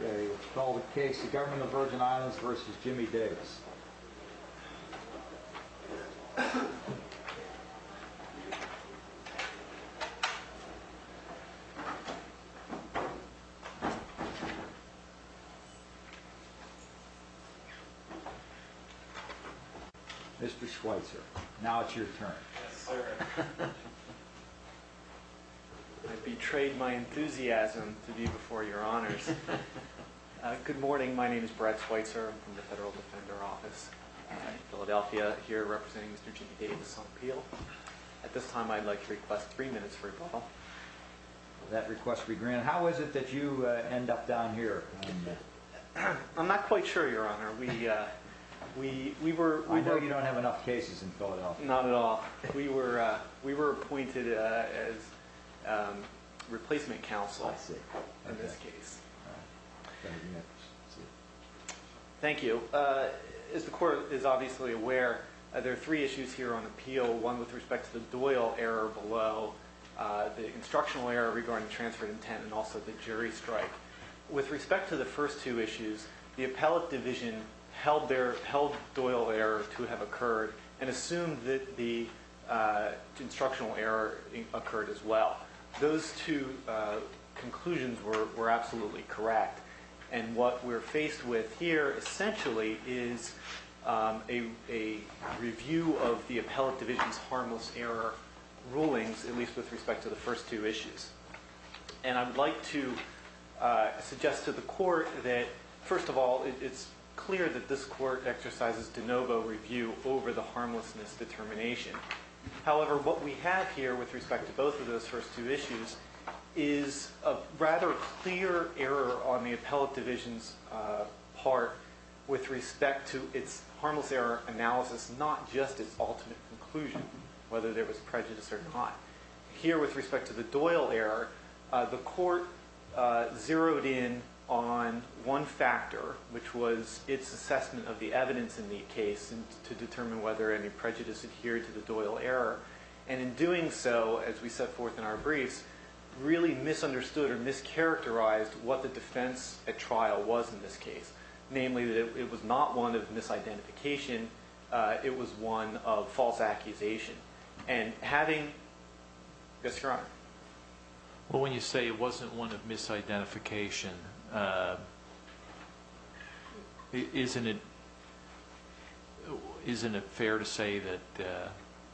Okay, let's call the case the Government of the Virgin Islands v. Jimmy Davis. Mr. Schweitzer, now it's your turn. Yes, sir. I betrayed my enthusiasm to be before your honors. Good morning. My name is Brad Schweitzer. I'm from the Federal Defender Office in Philadelphia, here representing Mr. Jimmy Davis on appeal. At this time, I'd like to request three minutes for a call. That request will be granted. How is it that you end up down here? I'm not quite sure, your honor. We were... I know you don't have enough cases in Philadelphia. Not at all. We were appointed as replacement counsel in this case. Thank you. As the court is obviously aware, there are three issues here on appeal. One with respect to the Doyle error below, the instructional error regarding transfer of intent, and also the jury strike. With respect to the first two issues, the appellate division held Doyle error to have occurred and assumed that the instructional error occurred as well. Those two conclusions were absolutely correct. And what we're faced with here essentially is a review of the appellate division's harmless error rulings, at least with respect to the first two issues. And I would like to suggest to the court that, first of all, it's clear that this court exercises de novo review over the harmlessness determination. However, what we have here with respect to both of those first two issues is a rather clear error on the appellate division's part with respect to its harmless error analysis, not just its ultimate conclusion, whether there was prejudice or not. Here with respect to the Doyle error, the court zeroed in on one factor, which was its assessment of the evidence in the case to determine whether any prejudice adhered to the Doyle error. And in doing so, as we set forth in our briefs, really misunderstood or mischaracterized what the defense at trial was in this case, namely that it was not one of misidentification. It was one of false accusation. And having… Yes, Your Honor. Well, when you say it wasn't one of misidentification, isn't it fair to say that…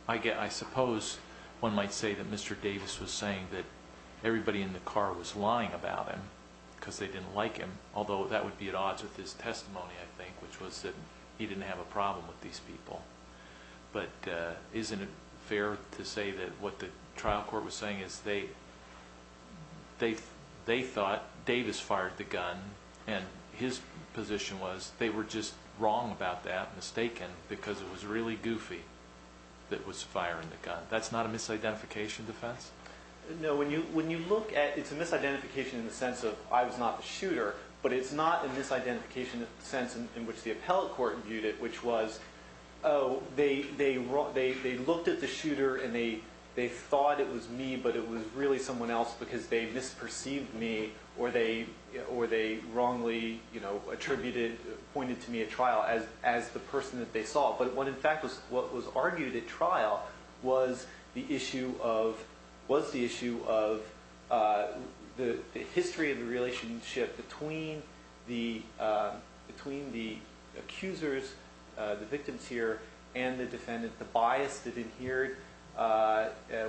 I suppose one might say that Mr. Davis was saying that everybody in the car was lying about him because they didn't like him, although that would be at odds with his testimony, I think, which was that he didn't have a problem with these people. But isn't it fair to say that what the trial court was saying is they thought Davis fired the gun and his position was they were just wrong about that, mistaken, because it was really goofy that was firing the gun. That's not a misidentification defense? No. When you look at – it's a misidentification in the sense of I was not the shooter, but it's not a misidentification in the sense in which the appellate court viewed it, which was, oh, they looked at the shooter and they thought it was me, but it was really someone else because they misperceived me or they wrongly attributed – pointed to me at trial as the person that they saw. But what in fact was argued at trial was the issue of – was the issue of the history of the relationship between the accusers, the victims here, and the defendant, the bias that adhered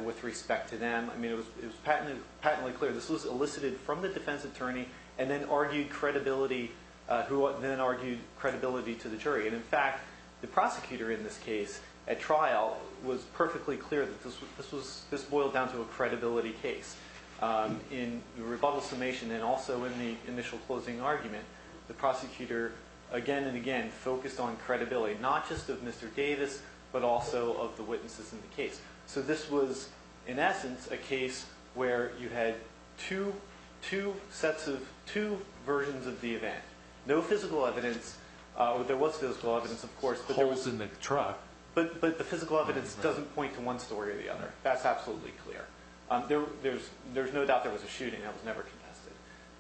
with respect to them. I mean, it was patently clear this was elicited from the defense attorney and then argued credibility – who then argued credibility to the jury. And in fact, the prosecutor in this case at trial was perfectly clear that this was – this boiled down to a credibility case. In the rebuttal summation and also in the initial closing argument, the prosecutor again and again focused on credibility, not just of Mr. Davis but also of the witnesses in the case. So this was in essence a case where you had two sets of – two versions of the event. No physical evidence – there was physical evidence, of course. Holes in the truck. But the physical evidence doesn't point to one story or the other. That's absolutely clear. There's no doubt there was a shooting that was never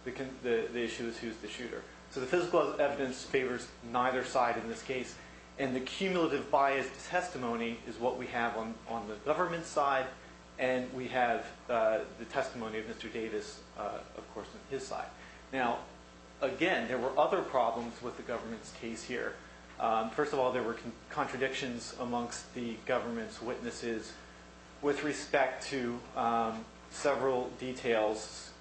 contested. The issue is who's the shooter. So the physical evidence favors neither side in this case. And the cumulative biased testimony is what we have on the government's side and we have the testimony of Mr. Davis, of course, on his side. Now, again, there were other problems with the government's case here. First of all, there were contradictions amongst the government's witnesses with respect to several details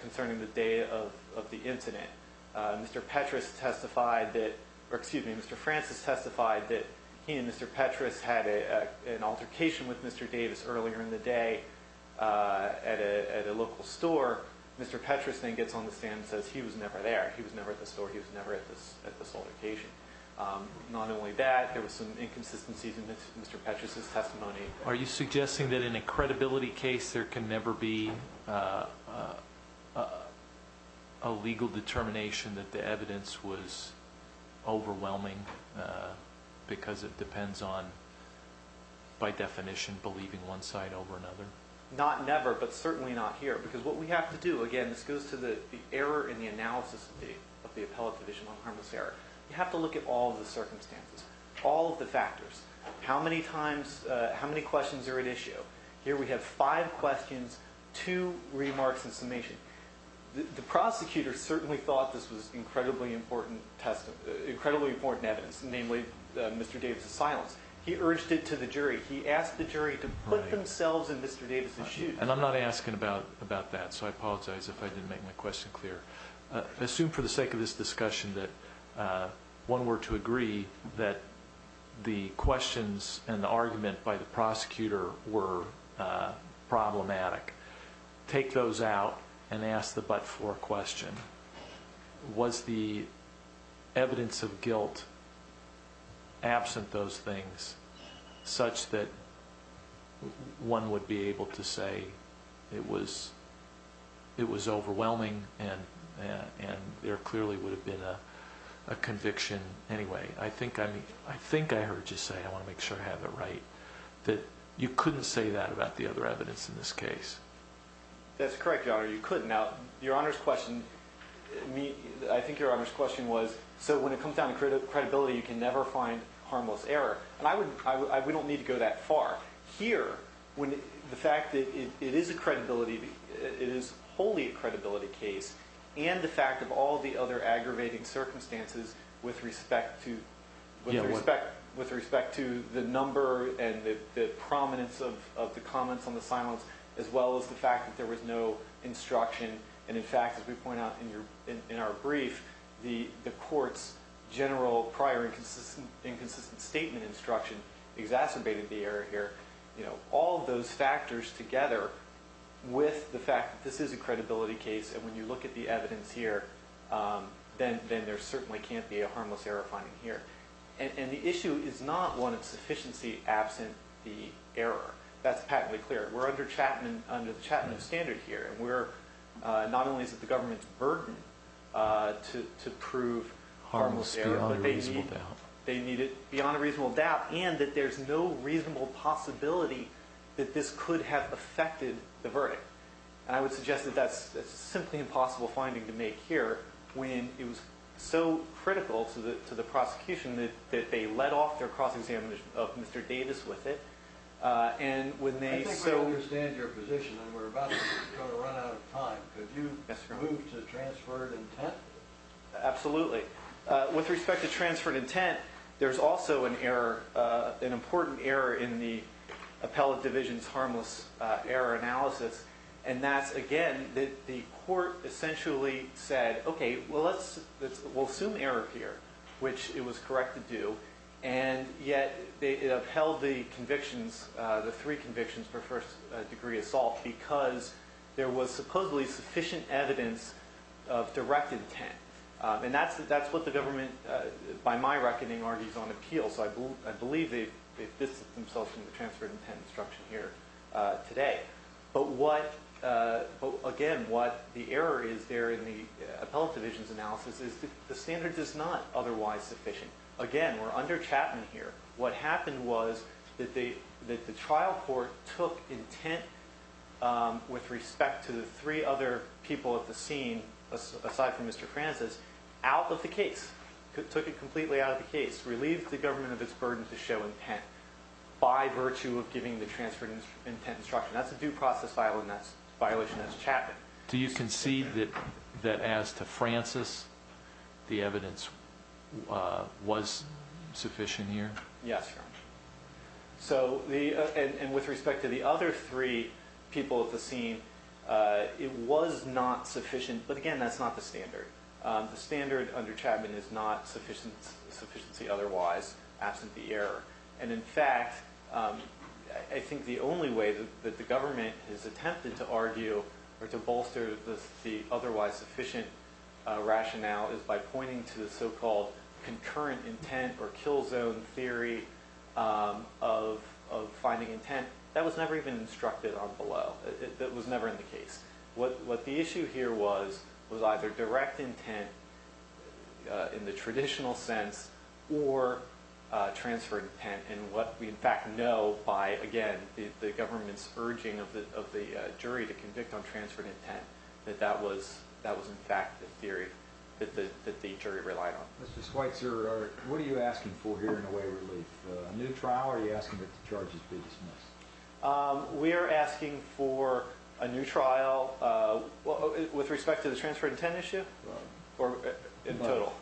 concerning the day of the incident. Mr. Petras testified that – or excuse me, Mr. Francis testified that he and Mr. Petras had an altercation with Mr. Davis earlier in the day at a local store. Mr. Petras then gets on the stand and says he was never there. He was never at the store. He was never at this altercation. Not only that, there were some inconsistencies in Mr. Petras' testimony. Are you suggesting that in a credibility case there can never be a legal determination that the evidence was overwhelming because it depends on, by definition, believing one side over another? Not never, but certainly not here. Because what we have to do – again, this goes to the error in the analysis of the appellate division on harmless error. You have to look at all of the circumstances, all of the factors. How many times – how many questions are at issue? Here we have five questions, two remarks and summation. The prosecutor certainly thought this was incredibly important evidence, namely Mr. Davis' silence. He urged it to the jury. He asked the jury to put themselves in Mr. Davis' shoes. And I'm not asking about that, so I apologize if I didn't make my question clear. I assume for the sake of this discussion that one were to agree that the questions and the argument by the prosecutor were problematic. Take those out and ask the butt floor question. Was the evidence of guilt absent those things such that one would be able to say it was overwhelming and there clearly would have been a conviction anyway? I think I heard you say – I want to make sure I have it right – that you couldn't say that about the other evidence in this case. That's correct, Your Honor. You couldn't. Now, Your Honor's question – I think Your Honor's question was, so when it comes down to credibility, you can never find harmless error. And we don't need to go that far. Here, the fact that it is a credibility – it is wholly a credibility case and the fact of all the other aggravating circumstances with respect to – Yeah, what? – the prominence of the comments on the silence as well as the fact that there was no instruction. And, in fact, as we point out in our brief, the court's general prior inconsistent statement instruction exacerbated the error here. All of those factors together with the fact that this is a credibility case and when you look at the evidence here, then there certainly can't be a harmless error finding here. And the issue is not one of sufficiency absent the error. That's patently clear. We're under the Chapman standard here, and we're – not only is it the government's burden to prove – Harmless beyond a reasonable doubt. They need it beyond a reasonable doubt and that there's no reasonable possibility that this could have affected the verdict. And I would suggest that that's a simply impossible finding to make here when it was so critical to the prosecution that they let off their cross-examination of Mr. Davis with it. And when they so – I think we understand your position, and we're about to run out of time. Could you move to transferred intent? Absolutely. With respect to transferred intent, there's also an error – an important error in the appellate division's harmless error analysis. And that's, again, that the court essentially said, okay, well, let's – we'll assume error here, which it was correct to do. And yet it upheld the convictions – the three convictions for first degree assault because there was supposedly sufficient evidence of direct intent. And that's what the government, by my reckoning, argues on appeal. So I believe they've distanced themselves from the transferred intent instruction here today. But what – again, what the error is there in the appellate division's analysis is the standard is not otherwise sufficient. Again, we're under Chapman here. What happened was that the trial court took intent with respect to the three other people at the scene, aside from Mr. Francis, out of the case. Took it completely out of the case. Relieved the government of its burden to show intent by virtue of giving the transferred intent instruction. That's a due process violation. That's a violation that's Chapman. Do you concede that as to Francis, the evidence was sufficient here? Yes. So the – and with respect to the other three people at the scene, it was not sufficient. But, again, that's not the standard. The standard under Chapman is not sufficiency otherwise, absent the error. And, in fact, I think the only way that the government has attempted to argue or to bolster the otherwise sufficient rationale is by pointing to the so-called concurrent intent or kill zone theory of finding intent. That was never even instructed on below. That was never in the case. What the issue here was was either direct intent in the traditional sense or transferred intent. And what we, in fact, know by, again, the government's urging of the jury to convict on transferred intent, that that was, in fact, the theory that the jury relied on. Mr. Schweitzer, what are you asking for here in the way of relief? A new trial or are you asking that the charges be dismissed? We are asking for a new trial with respect to the transferred intent issue or in total?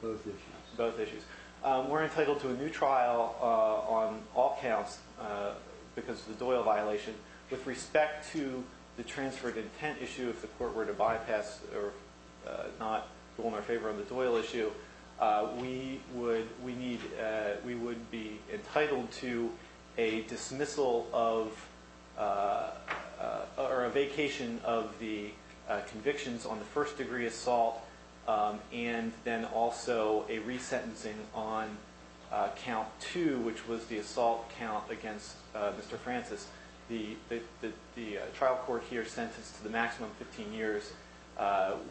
Both issues. Both issues. We're entitled to a new trial on all counts because of the Doyle violation. With respect to the transferred intent issue, if the court were to bypass or not go in our favor on the Doyle issue, we would be entitled to a dismissal of or a vacation of the convictions on the first degree assault and then also a resentencing on count two, which was the assault count against Mr. Francis. The trial court here sentenced to the maximum 15 years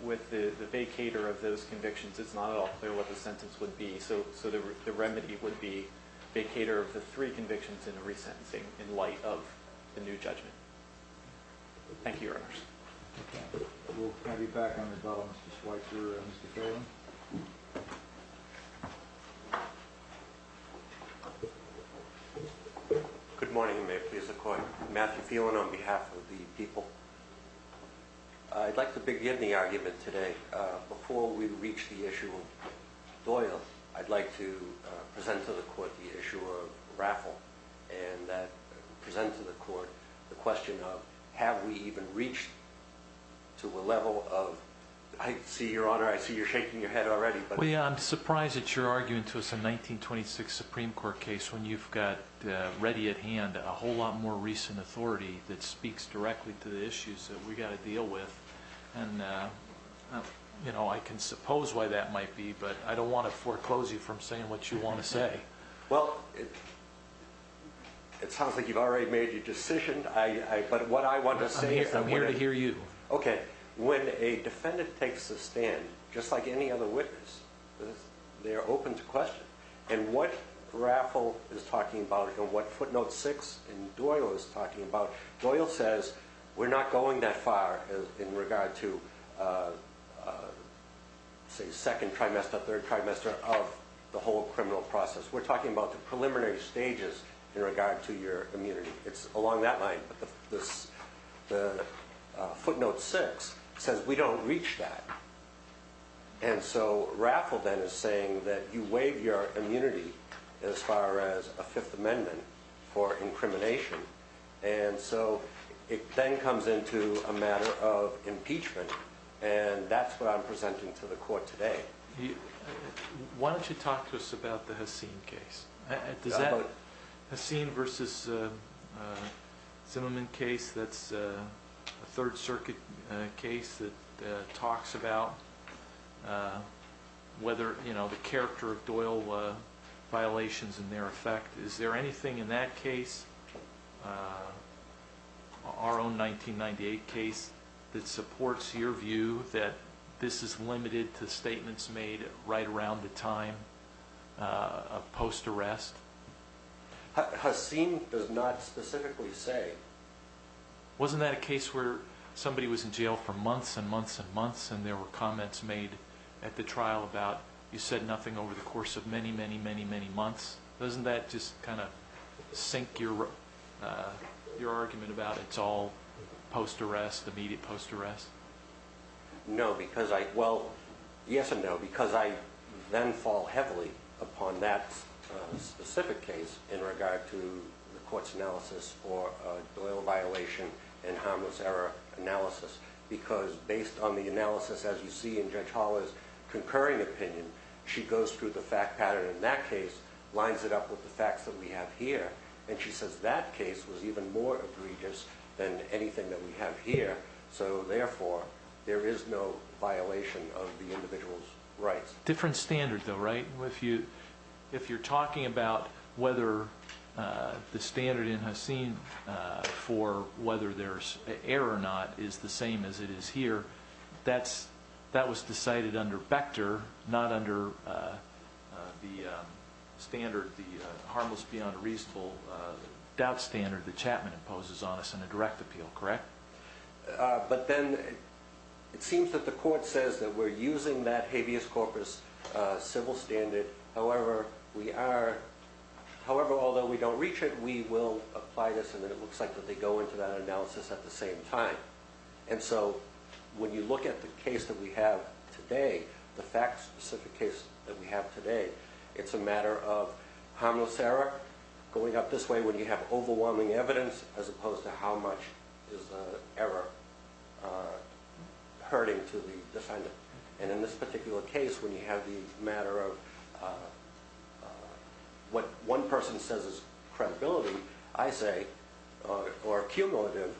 with the vacator of those convictions. It's not at all clear what the sentence would be. So the remedy would be vacator of the three convictions and resentencing in light of the new judgment. Thank you. We'll be back on the phone. Good morning. Matthew feeling on behalf of the people. I'd like to begin the argument today. Before we reach the issue of Doyle, I'd like to present to the court the issue of raffle and present to the court the question of have we even reached to a level of I see your honor. I see you're shaking your head already. I'm surprised that you're arguing to us in 1926 Supreme Court case when you've got ready at hand a whole lot more recent authority that speaks directly to the issues that we got to deal with. And, you know, I can suppose why that might be, but I don't want to foreclose you from saying what you want to say. Well, it sounds like you've already made your decision. I but what I want to say is I'm here to hear you. Okay. When a defendant takes a stand, just like any other witness, they are open to question. And what raffle is talking about and what footnote six and Doyle is talking about Doyle says we're not going that far in regard to say second trimester, third trimester of the whole criminal process. We're talking about the preliminary stages in regard to your immunity. It's along that line. But this footnote six says we don't reach that. And so raffle that is saying that you waive your immunity as far as a Fifth Amendment for incrimination. And so it then comes into a matter of impeachment. And that's what I'm presenting to the court today. Why don't you talk to us about the Haseen case? Haseen versus Zimmerman case. That's a Third Circuit case that talks about whether the character of Doyle violations in their effect. Is there anything in that case? Our own 1998 case that supports your view that this is limited to statements made right around the time of post arrest. Haseen does not specifically say. Wasn't that a case where somebody was in jail for months and months and months and there were comments made at the trial about you said nothing over the course of many, many, many, many months. Doesn't that just kind of sink your argument about it's all post arrest, immediate post arrest? No, because I well, yes or no, because I then fall heavily upon that specific case in regard to the court's analysis or Doyle violation and harmless error analysis. Because based on the analysis, as you see in Judge Holler's concurring opinion, she goes through the fact pattern in that case, lines it up with the facts that we have here. And she says that case was even more egregious than anything that we have here. So therefore, there is no violation of the individual's rights. Different standards, though, right? If you if you're talking about whether the standard in Haseen for whether there's error or not is the same as it is here, that's that was decided under Bechter, not under the standard, the harmless beyond reasonable doubt standard that Chapman imposes on us in a direct appeal. Correct. But then it seems that the court says that we're using that habeas corpus civil standard. However, we are. However, although we don't reach it, we will apply this. And then it looks like that they go into that analysis at the same time. And so when you look at the case that we have today, the facts of the case that we have today, it's a matter of harmless error going up this way when you have overwhelming evidence as opposed to how much is ever hurting to the defendant. And in this particular case, when you have the matter of what one person says is credibility, I say or cumulative,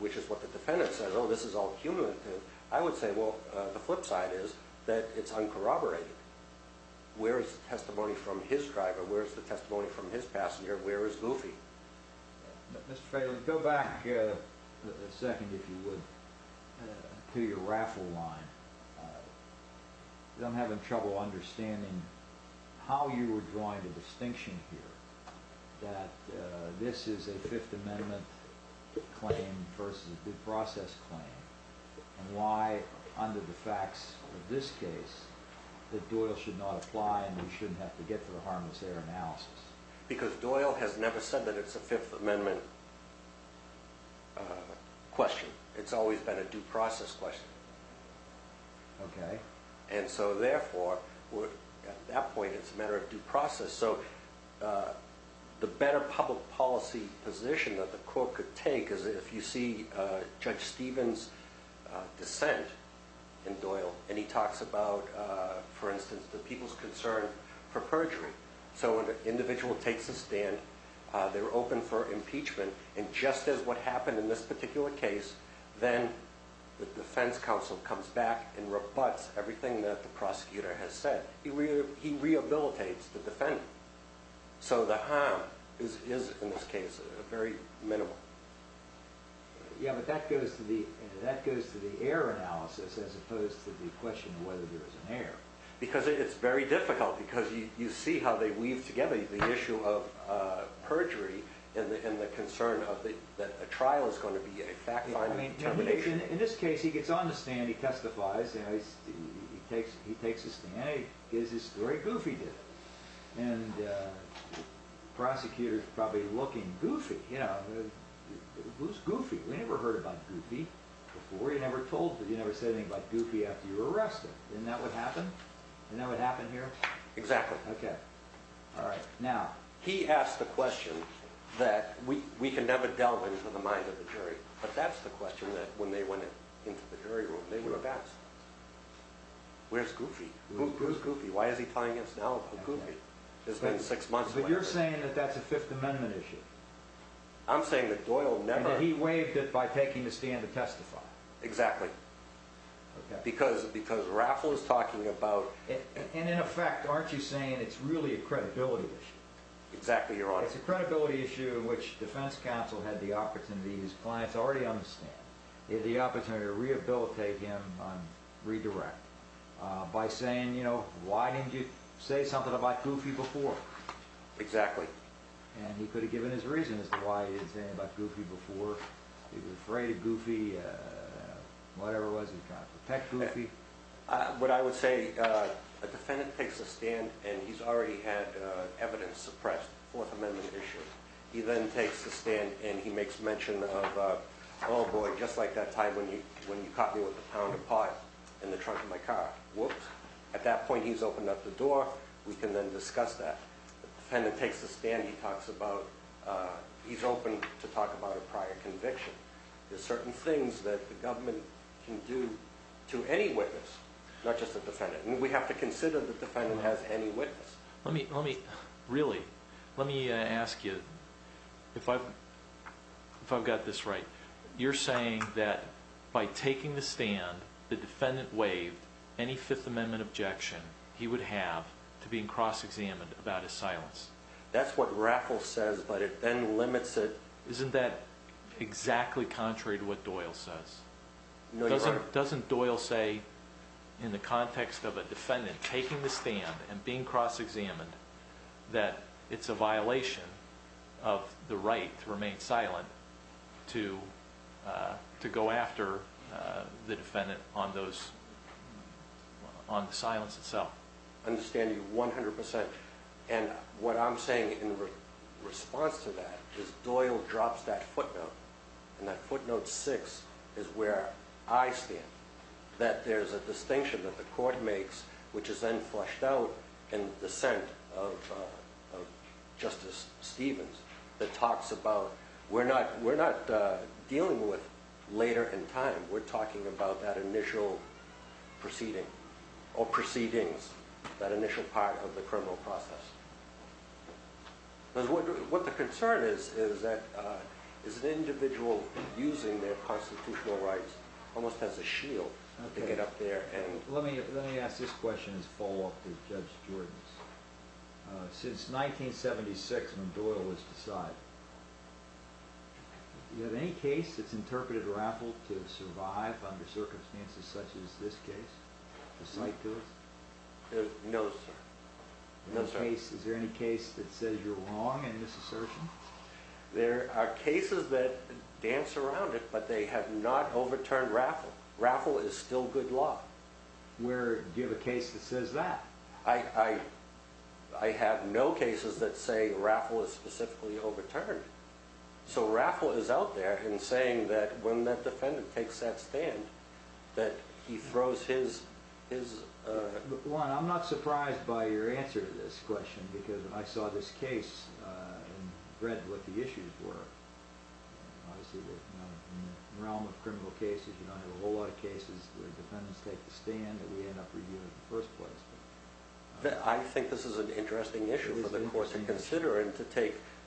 which is what the defendant says, oh, this is all cumulative. I would say, well, the flip side is that it's uncorroborated. Where is the testimony from his driver? Where's the testimony from his passenger? Where is Luffy? Go back a second, if you would, to your raffle line. I'm having trouble understanding how you were drawing the distinction here that this is a Fifth Amendment claim versus a due process claim. And why, under the facts of this case, that Doyle should not apply and we shouldn't have to get for the harmless error analysis. Because Doyle has never said that it's a Fifth Amendment question. It's always been a due process question. And so therefore, at that point, it's a matter of due process. So the better public policy position that the court could take is if you see Judge Stevens' dissent in Doyle and he talks about, for instance, the people's concern for perjury. So when an individual takes a stand, they're open for impeachment. And just as what happened in this particular case, then the defense counsel comes back and rebuts everything that the prosecutor has said. He rehabilitates the defendant. So the harm is, in this case, very minimal. Yeah, but that goes to the error analysis as opposed to the question of whether there was an error. Because it's very difficult because you see how they weave together the issue of perjury and the concern that a trial is going to be a fact-finding determination. In this case, he gets on the stand. He testifies. He takes his stand. And he gives his story. Goofy did it. And the prosecutor is probably looking goofy. Who's goofy? We never heard about goofy before. You never said anything about goofy after you were arrested. Isn't that what happened? Isn't that what happened here? Exactly. Okay. All right. Now. He asked the question that we can never delve into the mind of the jury. But that's the question that when they went into the jury room, they were asked. Where's goofy? Who's goofy? Why is he playing against now? Who's goofy? It's been six months. But you're saying that that's a Fifth Amendment issue. I'm saying that Doyle never. And that he waived it by taking the stand to testify. Exactly. Because raffle is talking about. And in effect, aren't you saying it's really a credibility issue? Exactly. Your Honor. It's a credibility issue in which defense counsel had the opportunity. His clients already understand. He had the opportunity to rehabilitate him on redirect. By saying, you know, why didn't you say something about goofy before? Exactly. And he could have given his reason as to why he didn't say anything about goofy before. He was afraid of goofy. Whatever it was he talked about. What I would say, a defendant takes a stand. And he's already had evidence suppressed. Fourth Amendment issue. He then takes a stand. And he makes mention of, oh boy, just like that time when you caught me with a pound of pot in the trunk of my car. Whoops. At that point, he's opened up the door. We can then discuss that. The defendant takes a stand. He talks about. He's open to talk about a prior conviction. There's certain things that the government can do to any witness. Not just the defendant. We have to consider the defendant has any witness. Let me, really, let me ask you. If I've got this right. You're saying that by taking the stand, the defendant waived any Fifth Amendment objection he would have to being cross-examined about his silence. That's what Raffle says, but it then limits it. Isn't that exactly contrary to what Doyle says? Doesn't Doyle say in the context of a defendant taking the stand and being cross-examined that it's a violation of the right to remain silent to go after the defendant on the silence itself? I understand you 100%. What I'm saying in response to that is Doyle drops that footnote. That footnote six is where I stand. That there's a distinction that the court makes, which is then flushed out in the dissent of Justice Stevens. That talks about we're not dealing with later in time. We're talking about that initial proceeding or proceedings, that initial part of the criminal process. What the concern is, is that is an individual using their constitutional rights almost as a shield to get up there. Let me ask this question as a follow-up to Judge Jordan's. Since 1976 when Doyle was decided, is there any case that's interpreted Raffle to survive under circumstances such as this case? No, sir. Is there any case that says you're wrong in this assertion? There are cases that dance around it, but they have not overturned Raffle. Raffle is still good law. Do you have a case that says that? I have no cases that say Raffle is specifically overturned. So Raffle is out there and saying that when that defendant takes that stand, that he throws his... Juan, I'm not surprised by your answer to this question, because when I saw this case and read what the issues were, obviously in the realm of criminal cases, you don't have a whole lot of cases where defendants take the stand that we end up reviewing in the first place. I think this is an interesting issue for the court to consider and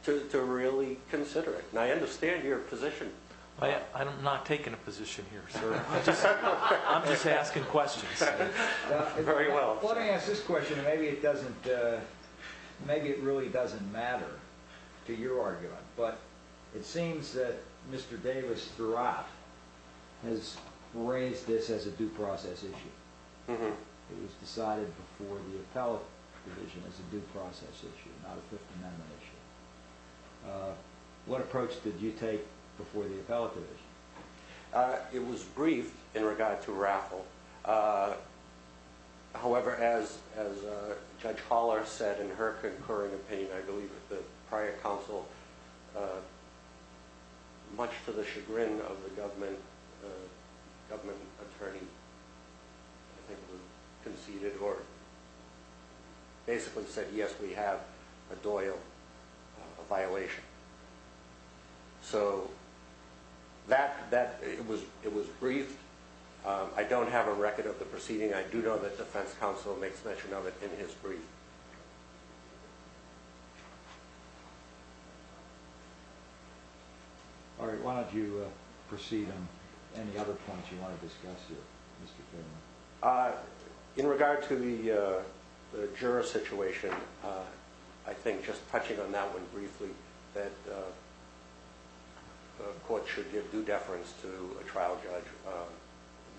to really consider it. I understand your position. I'm not taking a position here, sir. I'm just asking questions. Very well. Let me ask this question. Maybe it really doesn't matter to your argument, but it seems that Mr. Davis, throughout, has raised this as a due process issue. It was decided before the appellate division as a due process issue, not a Fifth Amendment issue. What approach did you take before the appellate division? It was briefed in regard to Raffle. However, as Judge Holler said in her concurring opinion, I believe at the prior counsel, much to the chagrin of the government attorney, I think it was conceded or basically said, yes, we have a Doyle, a violation. So it was briefed. I don't have a record of the proceeding. I do know that defense counsel makes mention of it in his brief. All right. Why don't you proceed on any other points you want to discuss here, Mr. Fairman? In regard to the juror situation, I think just touching on that one briefly, that the court should give due deference to a trial judge.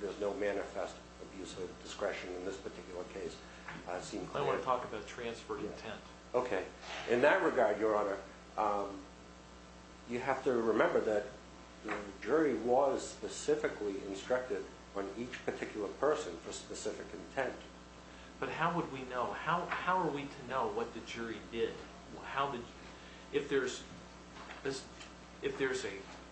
There's no manifest abuse of discretion in this particular case. I want to talk about transfer of intent. OK. In that regard, Your Honor, you have to remember that the jury was specifically instructed on each particular person for specific intent. But how would we know? How are we to know what the jury did? If there's a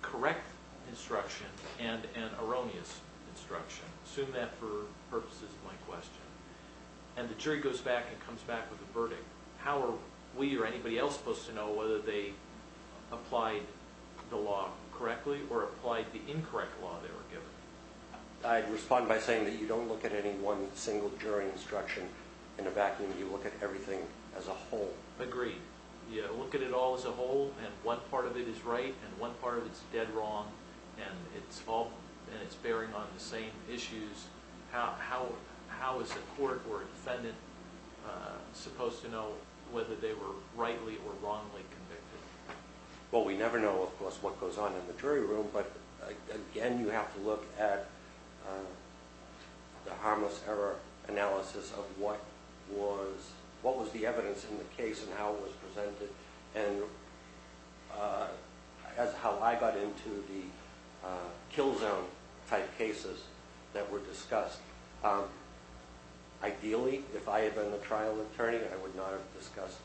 correct instruction and an erroneous instruction, assume that for purposes of my question, and the jury goes back and comes back with a verdict, how are we or anybody else supposed to know whether they applied the law correctly or applied the incorrect law they were given? I'd respond by saying that you don't look at any one single jury instruction in a vacuum. You look at everything as a whole. Agreed. You look at it all as a whole, and one part of it is right and one part of it is dead wrong, and it's bearing on the same issues. How is a court or a defendant supposed to know whether they were rightly or wrongly convicted? Well, we never know, of course, what goes on in the jury room, but, again, you have to look at the harmless error analysis of what was the evidence in the case and how it was presented. That's how I got into the kill zone type cases that were discussed. Ideally, if I had been the trial attorney, I would not have discussed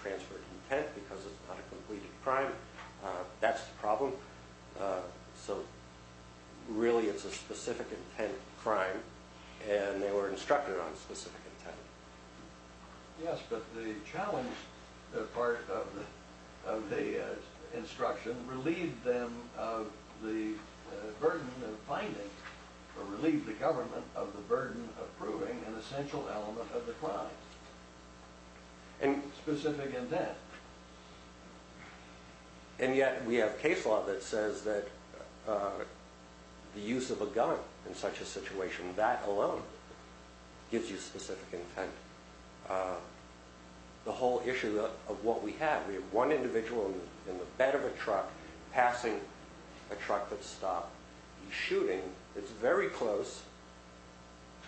transferred intent because it's not a completed crime. That's the problem. So, really, it's a specific intent crime, and they were instructed on specific intent. Yes, but the challenge part of the instruction relieved them of the burden of finding, or relieved the government of the burden of proving an essential element of the crime. Specific intent. And yet we have case law that says that the use of a gun in such a situation, that alone gives you specific intent. The whole issue of what we have, we have one individual in the bed of a truck passing a truck that stopped. He's shooting. It's very close.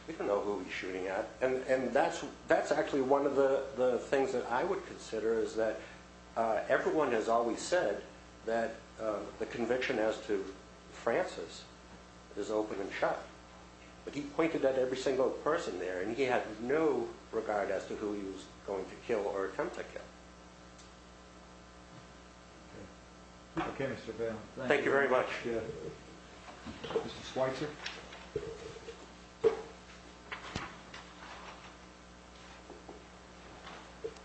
We don't know who he's shooting at. And that's actually one of the things that I would consider, is that everyone has always said that the conviction as to Francis is open and shut. But he pointed at every single person there, and he had no regard as to who he was going to kill or attempt to kill. Okay, Mr. Vail. Thank you very much. Mr. Schweitzer.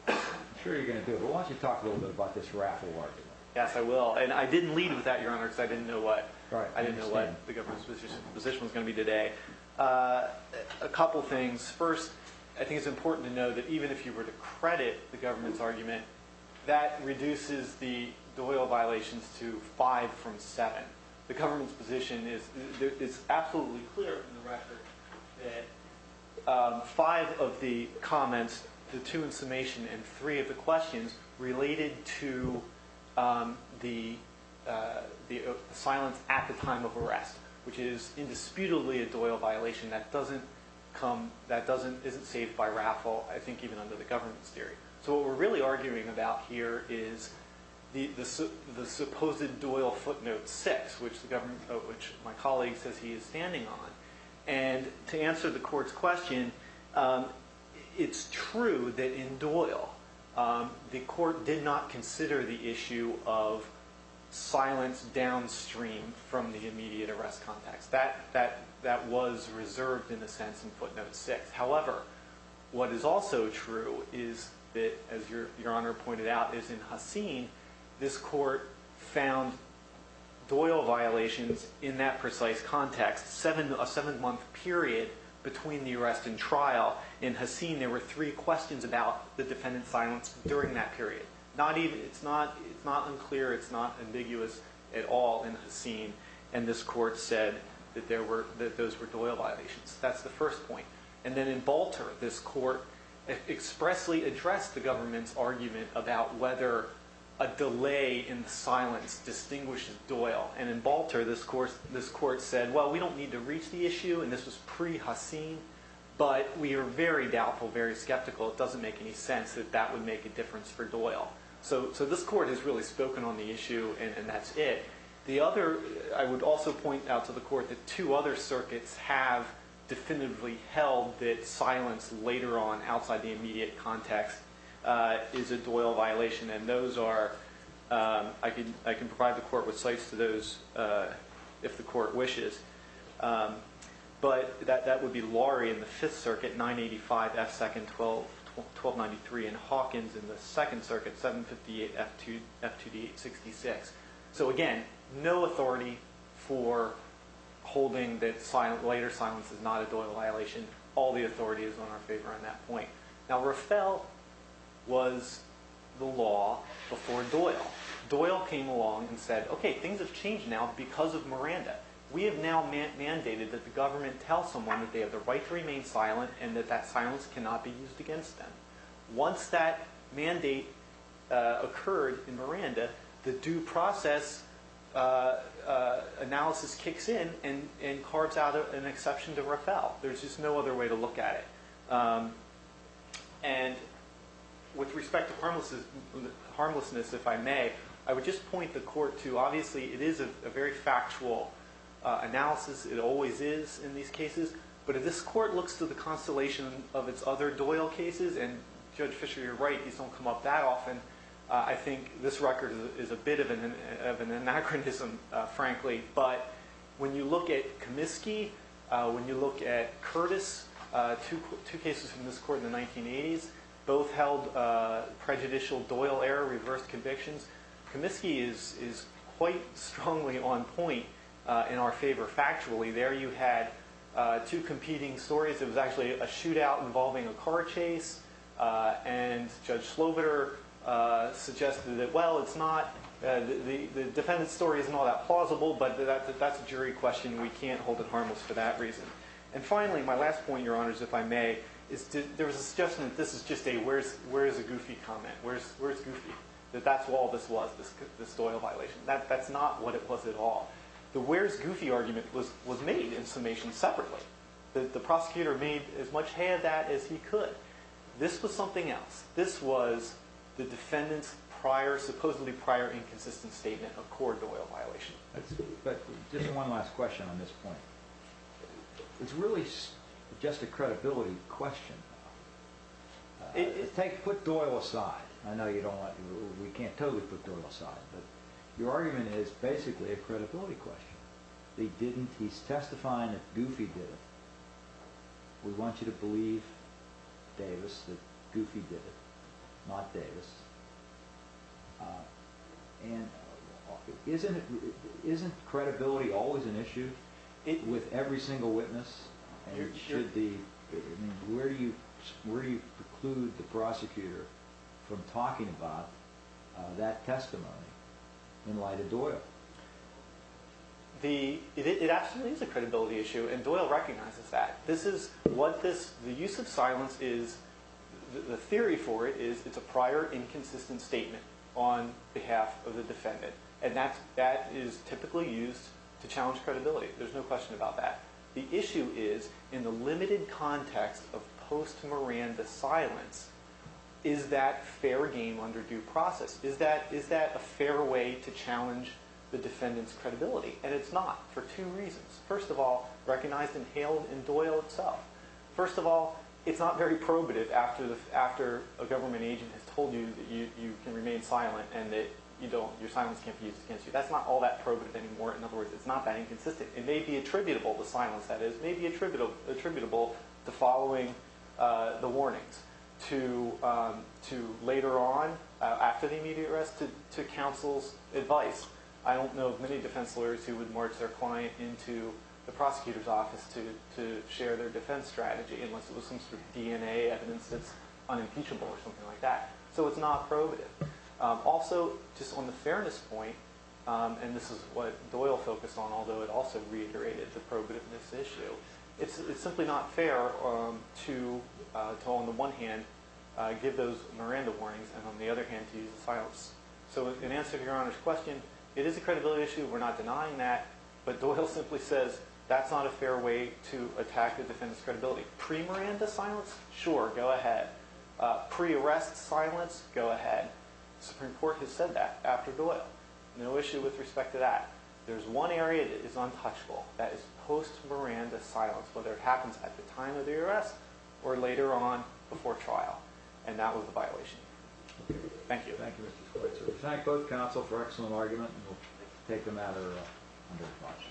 I'm sure you're going to do it, but why don't you talk a little bit about this raffle argument. Yes, I will. And I didn't lead with that, Your Honor, because I didn't know what the government's position was going to be today. A couple things. First, I think it's important to know that even if you were to credit the government's argument, that reduces the Doyle violations to five from seven. The government's position is absolutely clear in the record. Five of the comments, the two in summation, and three of the questions related to the silence at the time of arrest, which is indisputably a Doyle violation. That isn't saved by raffle, I think, even under the government's theory. So what we're really arguing about here is the supposed Doyle footnote six, which my colleague says he is standing on. And to answer the court's question, it's true that in Doyle, the court did not consider the issue of silence downstream from the immediate arrest context. That was reserved, in a sense, in footnote six. However, what is also true is that, as Your Honor pointed out, is in Haseen, this court found Doyle violations in that precise context. A seven-month period between the arrest and trial in Haseen, there were three questions about the defendant's silence during that period. It's not unclear. It's not ambiguous at all in Haseen. And this court said that those were Doyle violations. That's the first point. And then in Balter, this court expressly addressed the government's argument about whether a delay in the silence distinguishes Doyle. And in Balter, this court said, well, we don't need to reach the issue, and this was pre-Haseen, but we are very doubtful, very skeptical. It doesn't make any sense that that would make a difference for Doyle. So this court has really spoken on the issue, and that's it. I would also point out to the court that two other circuits have definitively held that silence later on, outside the immediate context, is a Doyle violation. And I can provide the court with sites to those if the court wishes. But that would be Lorry in the Fifth Circuit, 985 F. Second 1293, and Hawkins in the Second Circuit, 758 F.2d 866. So, again, no authority for holding that later silence is not a Doyle violation. All the authority is in our favor on that point. Now, Rafel was the law before Doyle. Doyle came along and said, okay, things have changed now because of Miranda. We have now mandated that the government tell someone that they have the right to remain silent and that that silence cannot be used against them. Once that mandate occurred in Miranda, the due process analysis kicks in and carves out an exception to Rafel. There's just no other way to look at it. And with respect to harmlessness, if I may, I would just point the court to, obviously, it is a very factual analysis. It always is in these cases. But if this court looks to the constellation of its other Doyle cases, and Judge Fisher, you're right, these don't come up that often. I think this record is a bit of an anachronism, frankly. But when you look at Comiskey, when you look at Curtis, two cases from this court in the 1980s, both held prejudicial Doyle error, reversed convictions. Comiskey is quite strongly on point in our favor factually. There you had two competing stories. It was actually a shootout involving a car chase. And Judge Slobiter suggested that, well, the defendant's story isn't all that plausible, but that's a jury question. We can't hold it harmless for that reason. And finally, my last point, Your Honors, if I may, is there was a suggestion that this is just a where's a goofy comment, where's goofy, that that's all this was, this Doyle violation. That's not what it was at all. The where's goofy argument was made in summation separately. The prosecutor made as much of that as he could. This was something else. This was the defendant's supposedly prior inconsistent statement of core Doyle violation. But just one last question on this point. It's really just a credibility question. Put Doyle aside. I know you don't want to. We can't totally put Doyle aside. But your argument is basically a credibility question. They didn't. He's testifying that Goofy did it. We want you to believe, Davis, that Goofy did it, not Davis. And isn't it isn't credibility always an issue with every single witness? Where do you preclude the prosecutor from talking about that testimony in light of Doyle? It absolutely is a credibility issue. And Doyle recognizes that. This is what this the use of silence is. The theory for it is it's a prior inconsistent statement on behalf of the defendant. And that that is typically used to challenge credibility. There's no question about that. The issue is in the limited context of post-Miranda silence, is that fair game under due process? Is that a fair way to challenge the defendant's credibility? And it's not for two reasons. First of all, recognized and hailed in Doyle itself. First of all, it's not very probative after a government agent has told you that you can remain silent and that your silence can't be used against you. That's not all that probative anymore. In other words, it's not that inconsistent. It may be attributable, the silence that is, may be attributable to following the warnings. To later on, after the immediate arrest, to counsel's advice. I don't know of many defense lawyers who would merge their client into the prosecutor's office to share their defense strategy unless it was some sort of DNA evidence that's unimpeachable or something like that. So it's not probative. Also, just on the fairness point, and this is what Doyle focused on, although it also reiterated the probativeness issue, it's simply not fair to, on the one hand, give those Miranda warnings and on the other hand to use the silence. So in answer to your Honor's question, it is a credibility issue. We're not denying that. But Doyle simply says that's not a fair way to attack the defendant's credibility. Pre-Miranda silence? Sure, go ahead. Pre-arrest silence? Go ahead. The Supreme Court has said that after Doyle. No issue with respect to that. There's one area that is untouchable. That is post-Miranda silence. Whether it happens at the time of the arrest or later on before trial. And that was the violation. Thank you. Thank you, Mr. Schultz. We thank both counsel for an excellent argument. We'll take a matter under discussion.